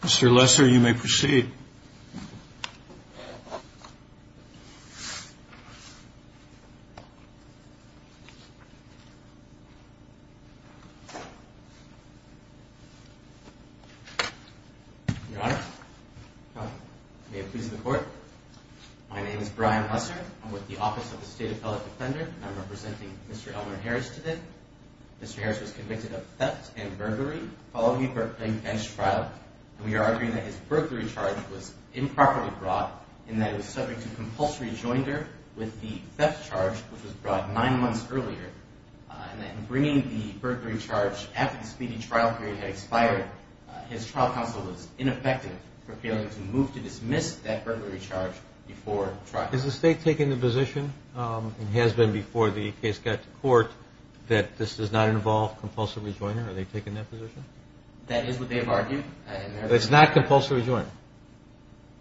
Mr. Lesser, you may proceed. Your Honor, may it please the Court, my name is Brian Lesser. I'm with the Office of the State Appellate Defender, and I'm representing Mr. Elmer Harris today. Mr. Harris was convicted of theft and burglary following the Burbank bench trial, and we are arguing that his burglary charge was improperly brought, and that he was subject to compulsory joinder with the earlier, and that in bringing the burglary charge after the speedy trial period had expired, his trial counsel was ineffective for failing to move to dismiss that burglary charge before trial. Is the State taking the position, and has been before the case got to court, that this does not involve compulsory rejoinder? Are they taking that position? That is what they've argued. It's not compulsory rejoinder?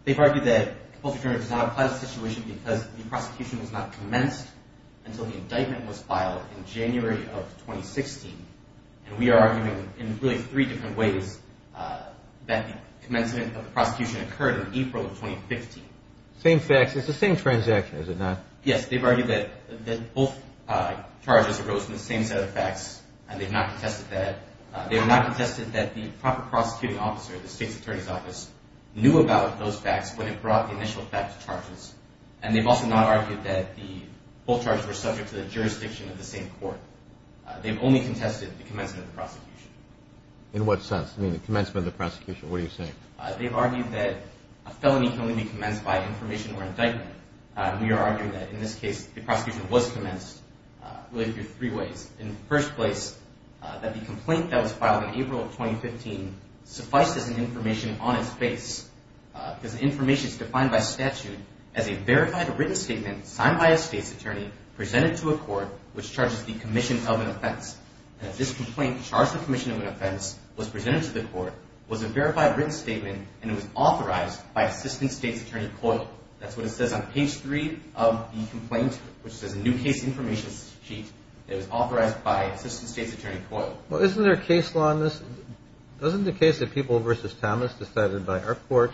They've argued that compulsory rejoinder does not apply until the indictment was filed in January of 2016, and we are arguing in really three different ways that the commencement of the prosecution occurred in April of 2015. Same facts, it's the same transaction, is it not? Yes, they've argued that both charges arose from the same set of facts, and they've not contested that. They have not contested that the proper prosecuting officer at the State's Attorney's Office knew about those facts when it brought the initial facts to charges, and they've also not argued that the both charges were subject to the jurisdiction of the same court. They've only contested the commencement of the prosecution. In what sense? You mean the commencement of the prosecution? What are you saying? They've argued that a felony can only be commenced by information or indictment. We are arguing that, in this case, the prosecution was commenced, really through three ways. In the first place, that the complaint that was filed in April of 2015 suffices as information on its face, because information is defined by statute as a verified written statement signed by a State's Attorney, presented to a court, which charges the commission of an offense. And if this complaint charged the commission of an offense, was presented to the court, was a verified written statement, and it was authorized by Assistant State's Attorney Coyle. That's what it says on page three of the complaint, which says a new case information sheet. It was authorized by Assistant State's Attorney Coyle. Well, isn't there a case law in this? Doesn't the case of People v. Thomas decided by our court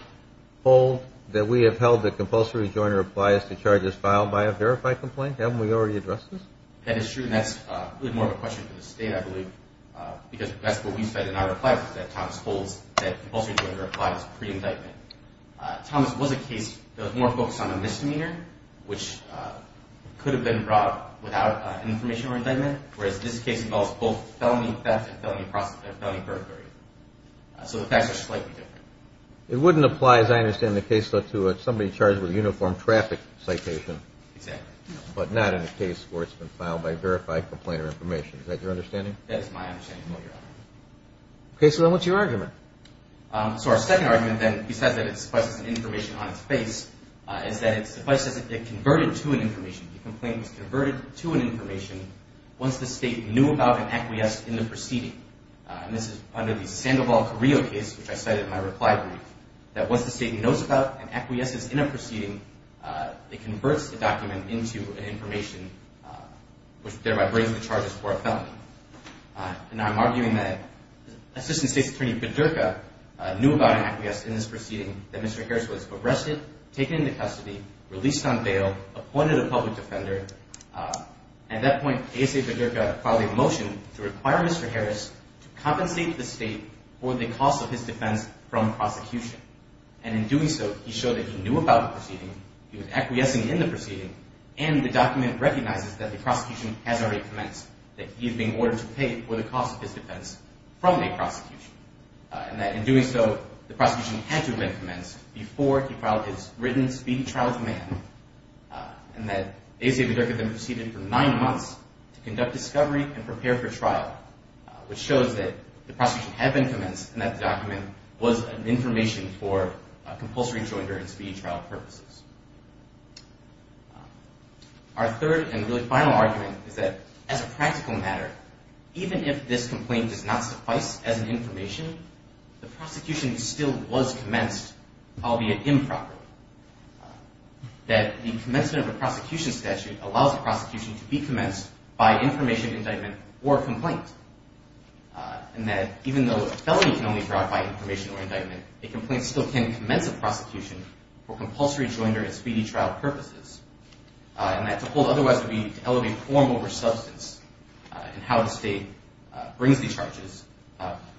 hold that we have held that compulsory rejoinder applies to charges filed by a verified complaint? Haven't we already addressed this? That is true, and that's really more of a question for the State, I believe, because that's what we've said in our replies, that Thomas holds that compulsory rejoinder applies pre-indictment. Thomas was a case that was more focused on a misdemeanor, which could have been brought without information or indictment, whereas this case involves both felony theft and felony perjury. So the facts are slightly different. It wouldn't apply, as I understand the case, though, to somebody charged with a uniform traffic citation. Exactly. But not in a case where it's been filed by verified complainant information. Is that your understanding? That is my understanding of what you're asking. Okay, so then what's your argument? So our second argument, then, besides that it suffices as information on its face, is that it suffices as a converted to an information. The complaint was converted to an information once the State knew about and acquiesced in the proceeding. And this is under the Sandoval Carrillo case, which I cited in my reply brief, that once the State knows about and acquiesces in a proceeding, it converts the document into an information, which thereby brings the charges for a felony. And I'm arguing that Assistant State's Attorney Bedurka knew about and acquiesced in this proceeding, that Mr. Harris was arrested, taken into custody, released on bail, appointed a public defender. At that point, ASA Bedurka filed a motion to require Mr. Harris to compensate the State for the cost of his defense from prosecution. And in doing so, he showed that he knew about the proceeding, he was acquiescing in the proceeding, and the document recognizes that the prosecution has already commenced, that he is being ordered to pay for the cost of his defense from the prosecution, and that in doing so, the prosecution had to have been commenced before he filed his written speedy trial demand, and that ASA Bedurka then proceeded for nine months to conduct discovery and prepare for trial, which shows that the prosecution had been commenced, and that the document was an information for a compulsory joinder and speedy trial purposes. Our third and really final argument is that, as a practical matter, even if this complaint does not suffice as an information, the prosecution still was commenced, albeit improperly. That the commencement of a prosecution statute allows the prosecution to be commenced by information, indictment, or complaint, and that even though a felony can only be brought by information or indictment, a complaint still can commence a prosecution for compulsory joinder and speedy trial purposes, and that to hold otherwise would be to elevate form over substance in how the State brings the charges,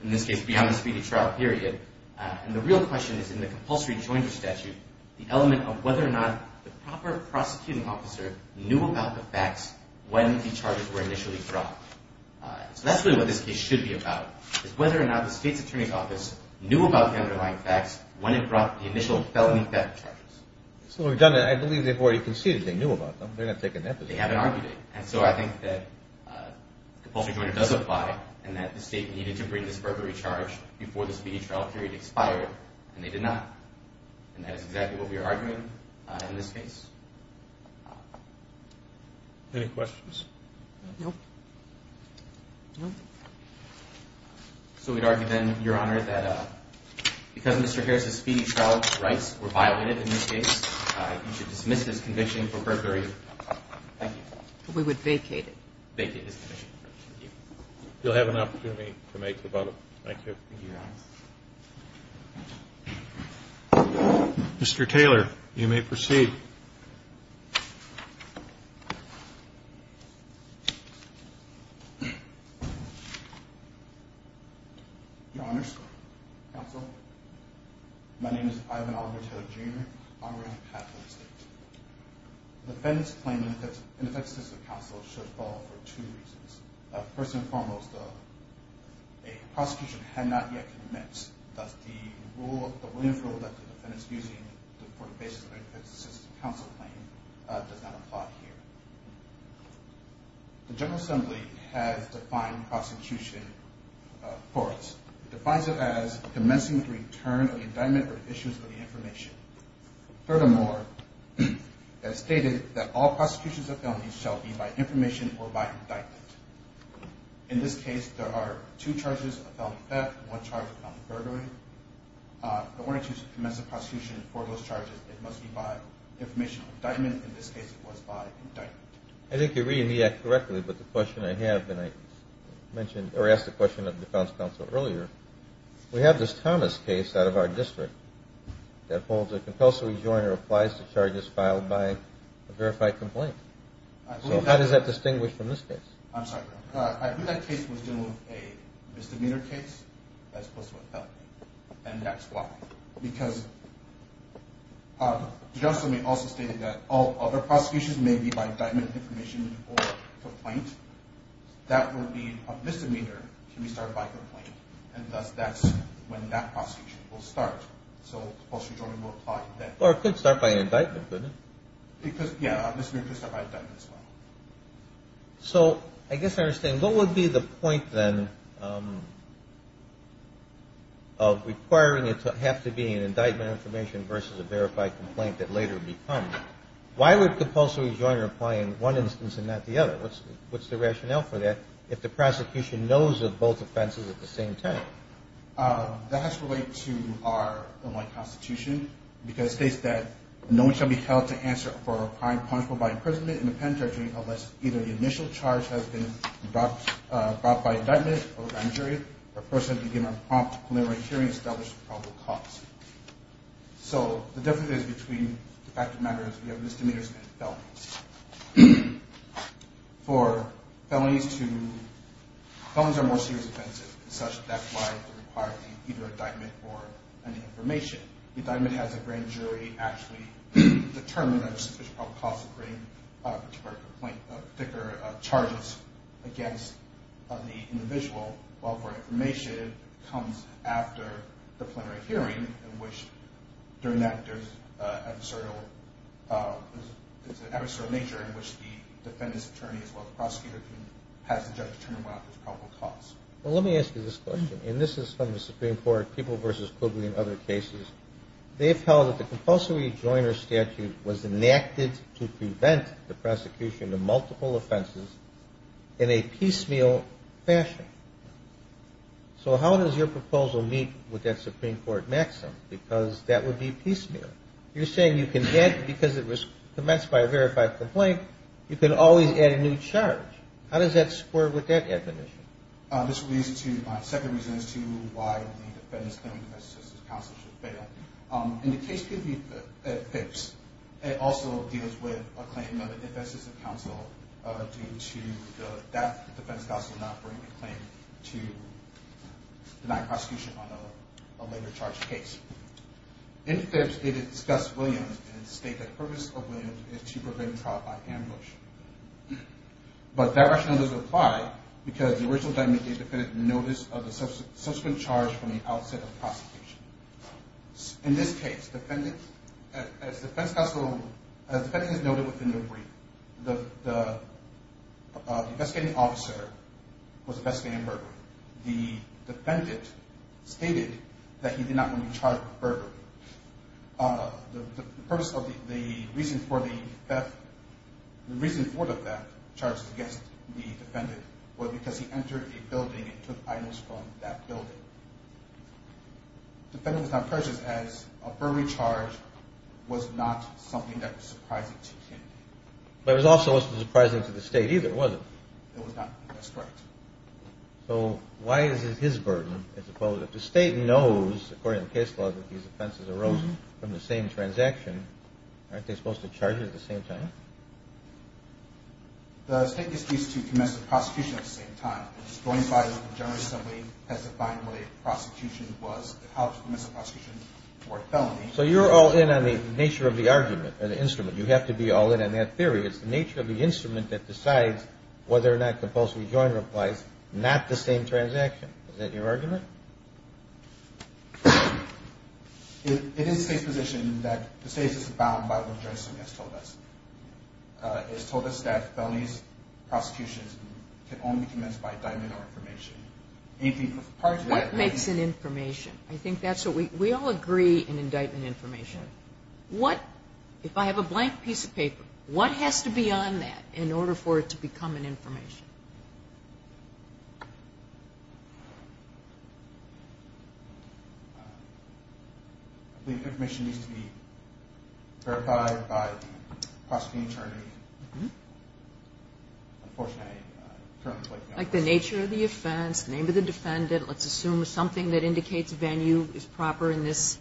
in this case, beyond the speedy trial period, and the real question is in the compulsory joinder statute, the element of whether or not the proper prosecuting officer knew about the facts when the charges were initially brought. So that's really what this case should be about, is whether or not the State's Attorney's Office knew about the underlying facts when it brought the initial felony fact charges. So we've done that. I believe they've already conceded they knew about them. They're not taking that position. They haven't argued it, and so I think that compulsory joinder does apply, and that the speedy trial period expired, and they did not, and that is exactly what we are arguing in this case. Any questions? No. No. So we'd argue then, Your Honor, that because Mr. Harris' speedy trial rights were violated in this case, you should dismiss his conviction for perjury. Thank you. We would vacate it. Vacate his conviction. Thank you. You'll have an opportunity to make a vote. Thank you. Thank you, Your Honor. Mr. Taylor, you may proceed. Your Honor, Counsel, my name is Ivan Oliver Taylor, Jr. I'm writing on behalf of the State. The defendant's claim in the defense system, Counsel, should fall for two reasons. First and foremost, a prosecution had not yet commenced. Thus, the Williams rule that the defendant's using for the basis of their defense system counsel claim does not apply here. The General Assembly has defined prosecution for us. It defines it as commencing the return of the indictment or the issuance of the information. Furthermore, as stated, that all prosecutions of felonies shall be by information or by indictment. In this case, there are two charges of felony theft, one charge of felony perjury. The warrant to commence a prosecution for those charges, it must be by information or indictment. In this case, it was by indictment. I think you're reading the act correctly, but the question I have, and I mentioned or asked the question of the defense counsel earlier, we have this Thomas case out of our district that holds a compulsory joint or applies to charges filed by a verified complaint. So how does that distinguish from this case? I'm sorry. I believe that case was dealing with a misdemeanor case as opposed to a felony, and that's why. Because the General Assembly also stated that all other prosecutions may be by indictment, information, or complaint. That would mean a misdemeanor can be started by complaint. And thus that's when that prosecution will start. So compulsory joint will apply then. Or it could start by indictment, couldn't it? Because, yeah, a misdemeanor could start by indictment as well. So I guess I understand. What would be the point then of requiring it to have to be an indictment information versus a verified complaint that later becomes? Why would compulsory joint apply in one instance and not the other? What's the rationale for that if the prosecution knows of both offenses at the same time? That has to relate to our Illinois Constitution, because it states that no one shall be held to answer for a crime punishable by imprisonment in the penitentiary unless either the initial charge has been brought by indictment or a jury or a person has been given a prompt preliminary hearing established at probable cause. So the difference is between the fact of the matter is we have misdemeanors and felonies. For felonies to – felonies are more serious offenses. As such, that's why they require either indictment or an information. The indictment has a grand jury actually determine a suspicion of probable cause of bringing a particular complaint, a particular charges against the individual. While for information, it comes after the preliminary hearing, in which during that there's an adversarial nature in which the defendant's attorney as well as the prosecutor has the judge determine what is probable cause. Well, let me ask you this question, and this is from the Supreme Court, People v. Quigley and other cases. They've held that the compulsory joiner statute was enacted to prevent the prosecution of multiple offenses in a piecemeal fashion. So how does your proposal meet with that Supreme Court maxim? Because that would be piecemeal. You're saying you can add – because it was commenced by a verified complaint, you can always add a new charge. How does that square with that definition? This leads to – my second reason is to why the defendant's claim of infestation of counsel should fail. In the case of Phipps, it also deals with a claim of an infestation of counsel due to the fact that the defense counsel did not bring a claim to deny prosecution on a later charged case. In Phipps, they discuss Williams and state that the purpose of Williams is to prevent trial by ambush. But that rationale doesn't apply because the original document gave the defendant notice of the subsequent charge from the outset of the prosecution. In this case, as the defense counsel – as the defendant has noted within the brief, the investigating officer was investigating Burberry. The defendant stated that he did not want to be charged with Burberry. The reason for the theft charged against the defendant was because he entered a building and took items from that building. The defendant was not purchased as a Burberry charge was not something that was surprising to him. But it was also wasn't surprising to the state either, was it? It was not. That's correct. So why is it his burden as opposed – if the state knows, according to the case law, that these offenses arose from the same transaction, aren't they supposed to charge it at the same time? The state gets used to commensurate prosecution at the same time. It's going by what the jury assembly has defined what a prosecution was, how to commence a prosecution for a felony. So you're all in on the nature of the argument or the instrument. You have to be all in on that theory. It's the nature of the instrument that decides whether or not the post rejoinder applies, not the same transaction. Is that your argument? It is the state's position that the state is bound by what the jury assembly has told us. It has told us that felonies, prosecutions can only be commenced by indictment or information. What makes an information? I think that's what we – we all agree in indictment information. What – if I have a blank piece of paper, what has to be on that in order for it to become an information? I believe information needs to be verified by the prosecuting attorney. Unfortunately, I currently don't have that. Like the nature of the offense, the name of the defendant, let's assume something that indicates venue is proper in this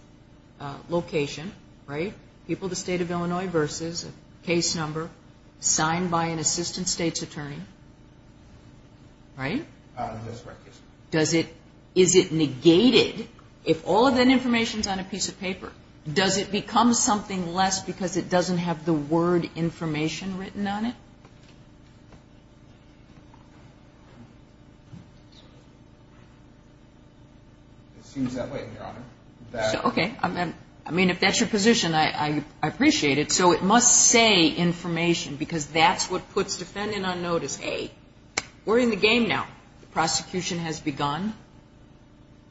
location, right? People of the state of Illinois versus a case number signed by an assistant state's attorney. Right? That's correct, yes. Does it – is it negated if all of that information is on a piece of paper? Does it become something less because it doesn't have the word information written on it? It seems that way, Your Honor. Okay. I mean, if that's your position, I appreciate it. So it must say information because that's what puts defendant on notice. Hey, we're in the game now. The prosecution has begun.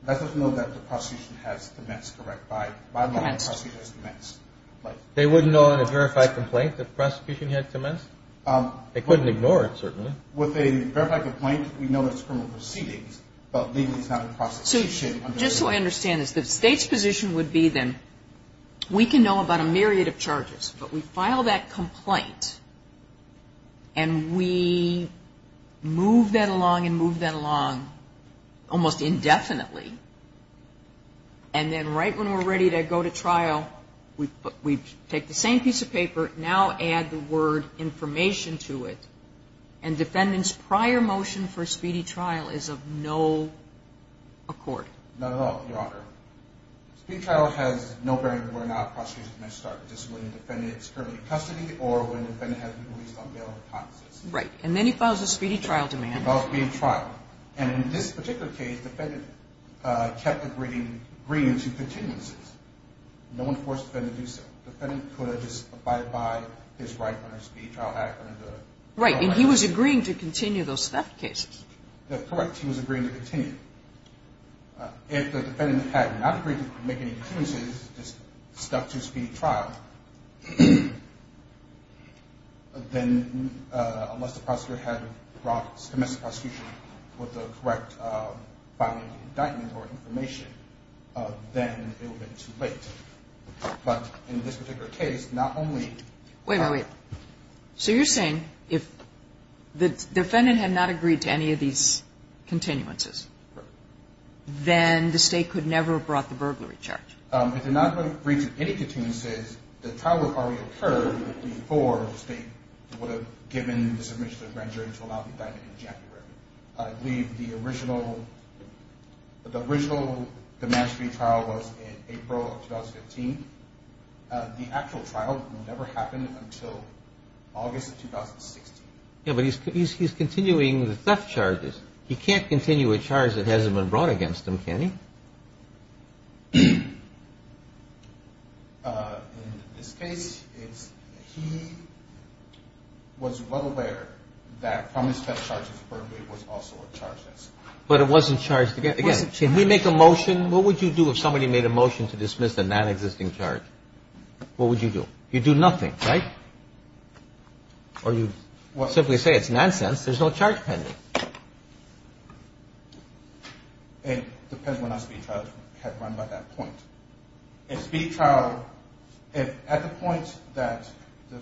That doesn't know that the prosecution has commenced, correct? By law, the prosecution has commenced. They wouldn't know in a verified complaint if the prosecution had commenced? They couldn't ignore it, certainly. With a verified complaint, we know it's criminal proceedings, but legally it's not a prosecution. Just so I understand this, the state's position would be then we can know about a myriad of charges, but we file that complaint and we move that along and move that along almost indefinitely, and then right when we're ready to go to trial, we take the same piece of paper, now add the word information to it, and defendant's prior motion for a speedy trial is of no accord. Not at all, Your Honor. A speedy trial has no bearing where or not a prosecution has started, just when the defendant is currently in custody or when the defendant has been released on bail or consistent. Right. And then he files a speedy trial demand. A speedy trial. And in this particular case, the defendant kept agreeing to continuances. No one forced the defendant to do so. The defendant could have just abided by his right under the speedy trial act. Right. And he was agreeing to continue those theft cases. Correct. He was agreeing to continue. If the defendant had not agreed to make any continuances, just stuck to a speedy trial, then unless the prosecutor had promised the prosecution with the correct filing of the indictment or information, then it would have been too late. But in this particular case, not only – Wait, wait, wait. So you're saying if the defendant had not agreed to any of these continuances, then the State could never have brought the burglary charge? If the defendant had not agreed to any continuances, the trial would have already occurred before the State would have given the submission to the grand jury to allow the indictment in January. I believe the original – the original demonstrative trial was in April of 2015. The actual trial never happened until August of 2016. Yeah, but he's continuing the theft charges. He can't continue a charge that hasn't been brought against him, can he? In this case, he was well aware that from his theft charges burglary was also a charge against him. But it wasn't charged against – again, can we make a motion? What would you do if somebody made a motion to dismiss a nonexisting charge? What would you do? You'd do nothing, right? Or you'd simply say it's nonsense. There's no charge pending. It depends on when a speedy trial had run by that point. A speedy trial, if at the point that the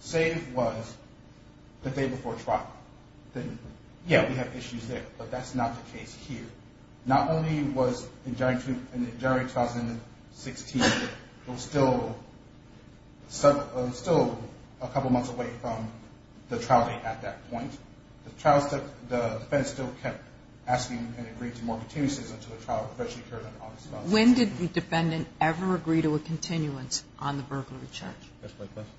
save was the day before trial, then, yeah, we have issues there. But that's not the case here. Not only was in January 2016 still – still a couple months away from the trial date at that point. The trial – the defense still kept asking and agreed to more continuances until the trial officially occurred in August of 2016. When did the defendant ever agree to a continuance on the burglary charge? That's my question.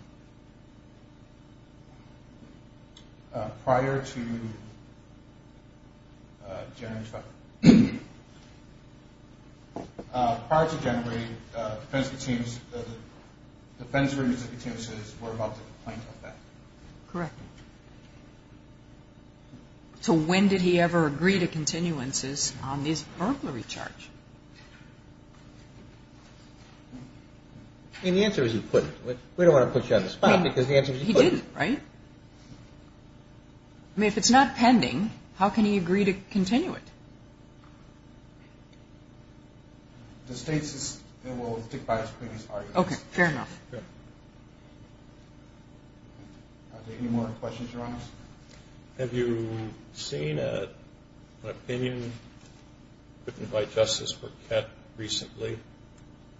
Prior to January. Prior to January, defense continues – the defense agrees to continuances. We're about to complain about that. Correct. So when did he ever agree to continuances on this burglary charge? I mean, the answer is he couldn't. We don't want to put you on the spot because the answer is he couldn't. He didn't, right? I mean, if it's not pending, how can he agree to continue it? The state system will stick by its previous arguments. Okay. Fair enough. Yeah. Are there any more questions you want to ask? Have you seen an opinion written by Justice Burkett recently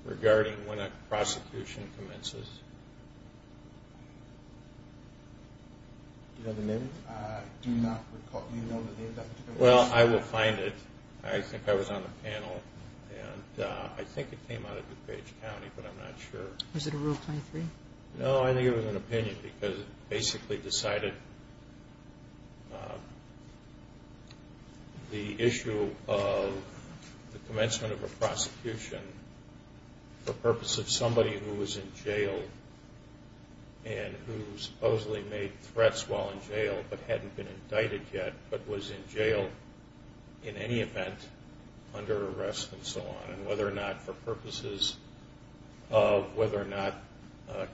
regarding when a prosecution commences? Do you know the name? I do not recall – do you know the name of that particular – Well, I will find it. I think I was on the panel, and I think it came out of DuPage County, but I'm not sure. Was it a Rule 23? No, I think it was an opinion because it basically decided the issue of the commencement of a prosecution for purpose of somebody who was in jail and who supposedly made threats while in jail but hadn't been indicted yet but was in jail in any event under arrest and so on. And whether or not for purposes of whether or not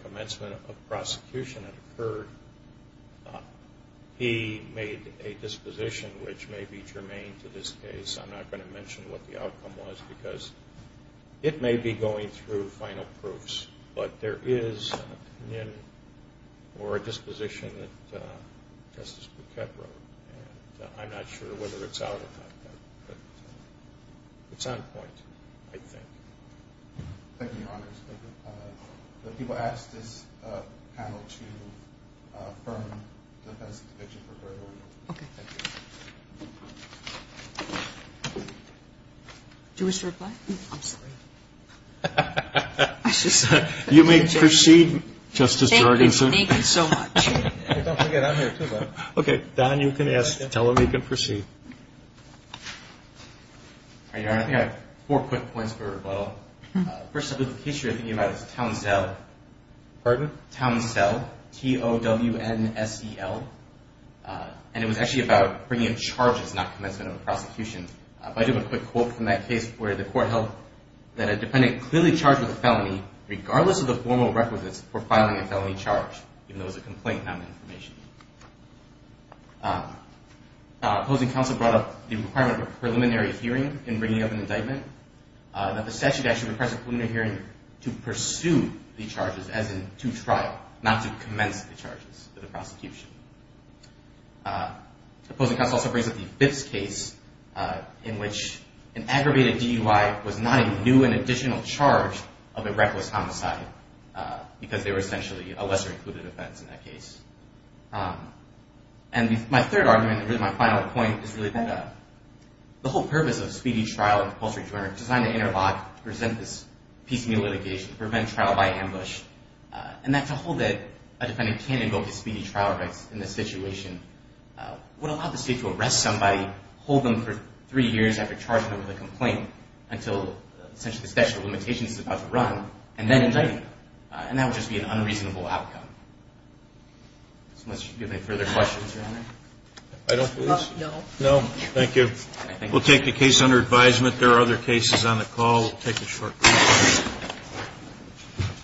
commencement of prosecution had occurred, he made a disposition which may be germane to this case. I'm not going to mention what the outcome was because it may be going through final proofs, but there is an opinion or a disposition that Justice Burkett wrote, and I'm not sure whether it's out or not, but it's on point, I think. Thank you, Your Honors. The people asked this panel to affirm the defense's conviction for Gregory. Okay. Do you wish to reply? I'm sorry. You may proceed, Justice Jorgenson. Thank you so much. Don't forget, I'm here too, Bob. Okay. Don, you can ask. Tell him he can proceed. Your Honor, I think I have four quick points for rebuttal. The first case you're thinking about is Townsell. Pardon? Townsell, T-O-W-N-S-E-L. And it was actually about bringing charges, not commencement of a prosecution. But I do have a quick quote from that case where the court held that a defendant clearly charged with a felony, regardless of the formal requisites for filing a felony charge, even though it was a complaint not an information. Opposing counsel brought up the requirement of a preliminary hearing in bringing up an indictment, that the statute actually requires a preliminary hearing to pursue the charges, as in to trial, not to commence the charges for the prosecution. Opposing counsel also brings up the fifth case in which an aggravated DUI was not a new and additional charge of a reckless homicide, because they were essentially a lesser-included offense in that case. And my third argument, and really my final point, is really that the whole purpose of a speedy trial and compulsory jury was designed to interlock, to present this piecemeal litigation, to prevent trial by ambush. And that to hold that a defendant can't invoke the speedy trial rights in this situation would allow the state to arrest somebody, hold them for three years after charging them with a complaint, until essentially the statute of limitations is about to run, and then indict them. And that would just be an unreasonable outcome. Unless you have any further questions, Your Honor. I don't believe so. No. Thank you. We'll take the case under advisement. There are other cases on the call. We'll take a short break.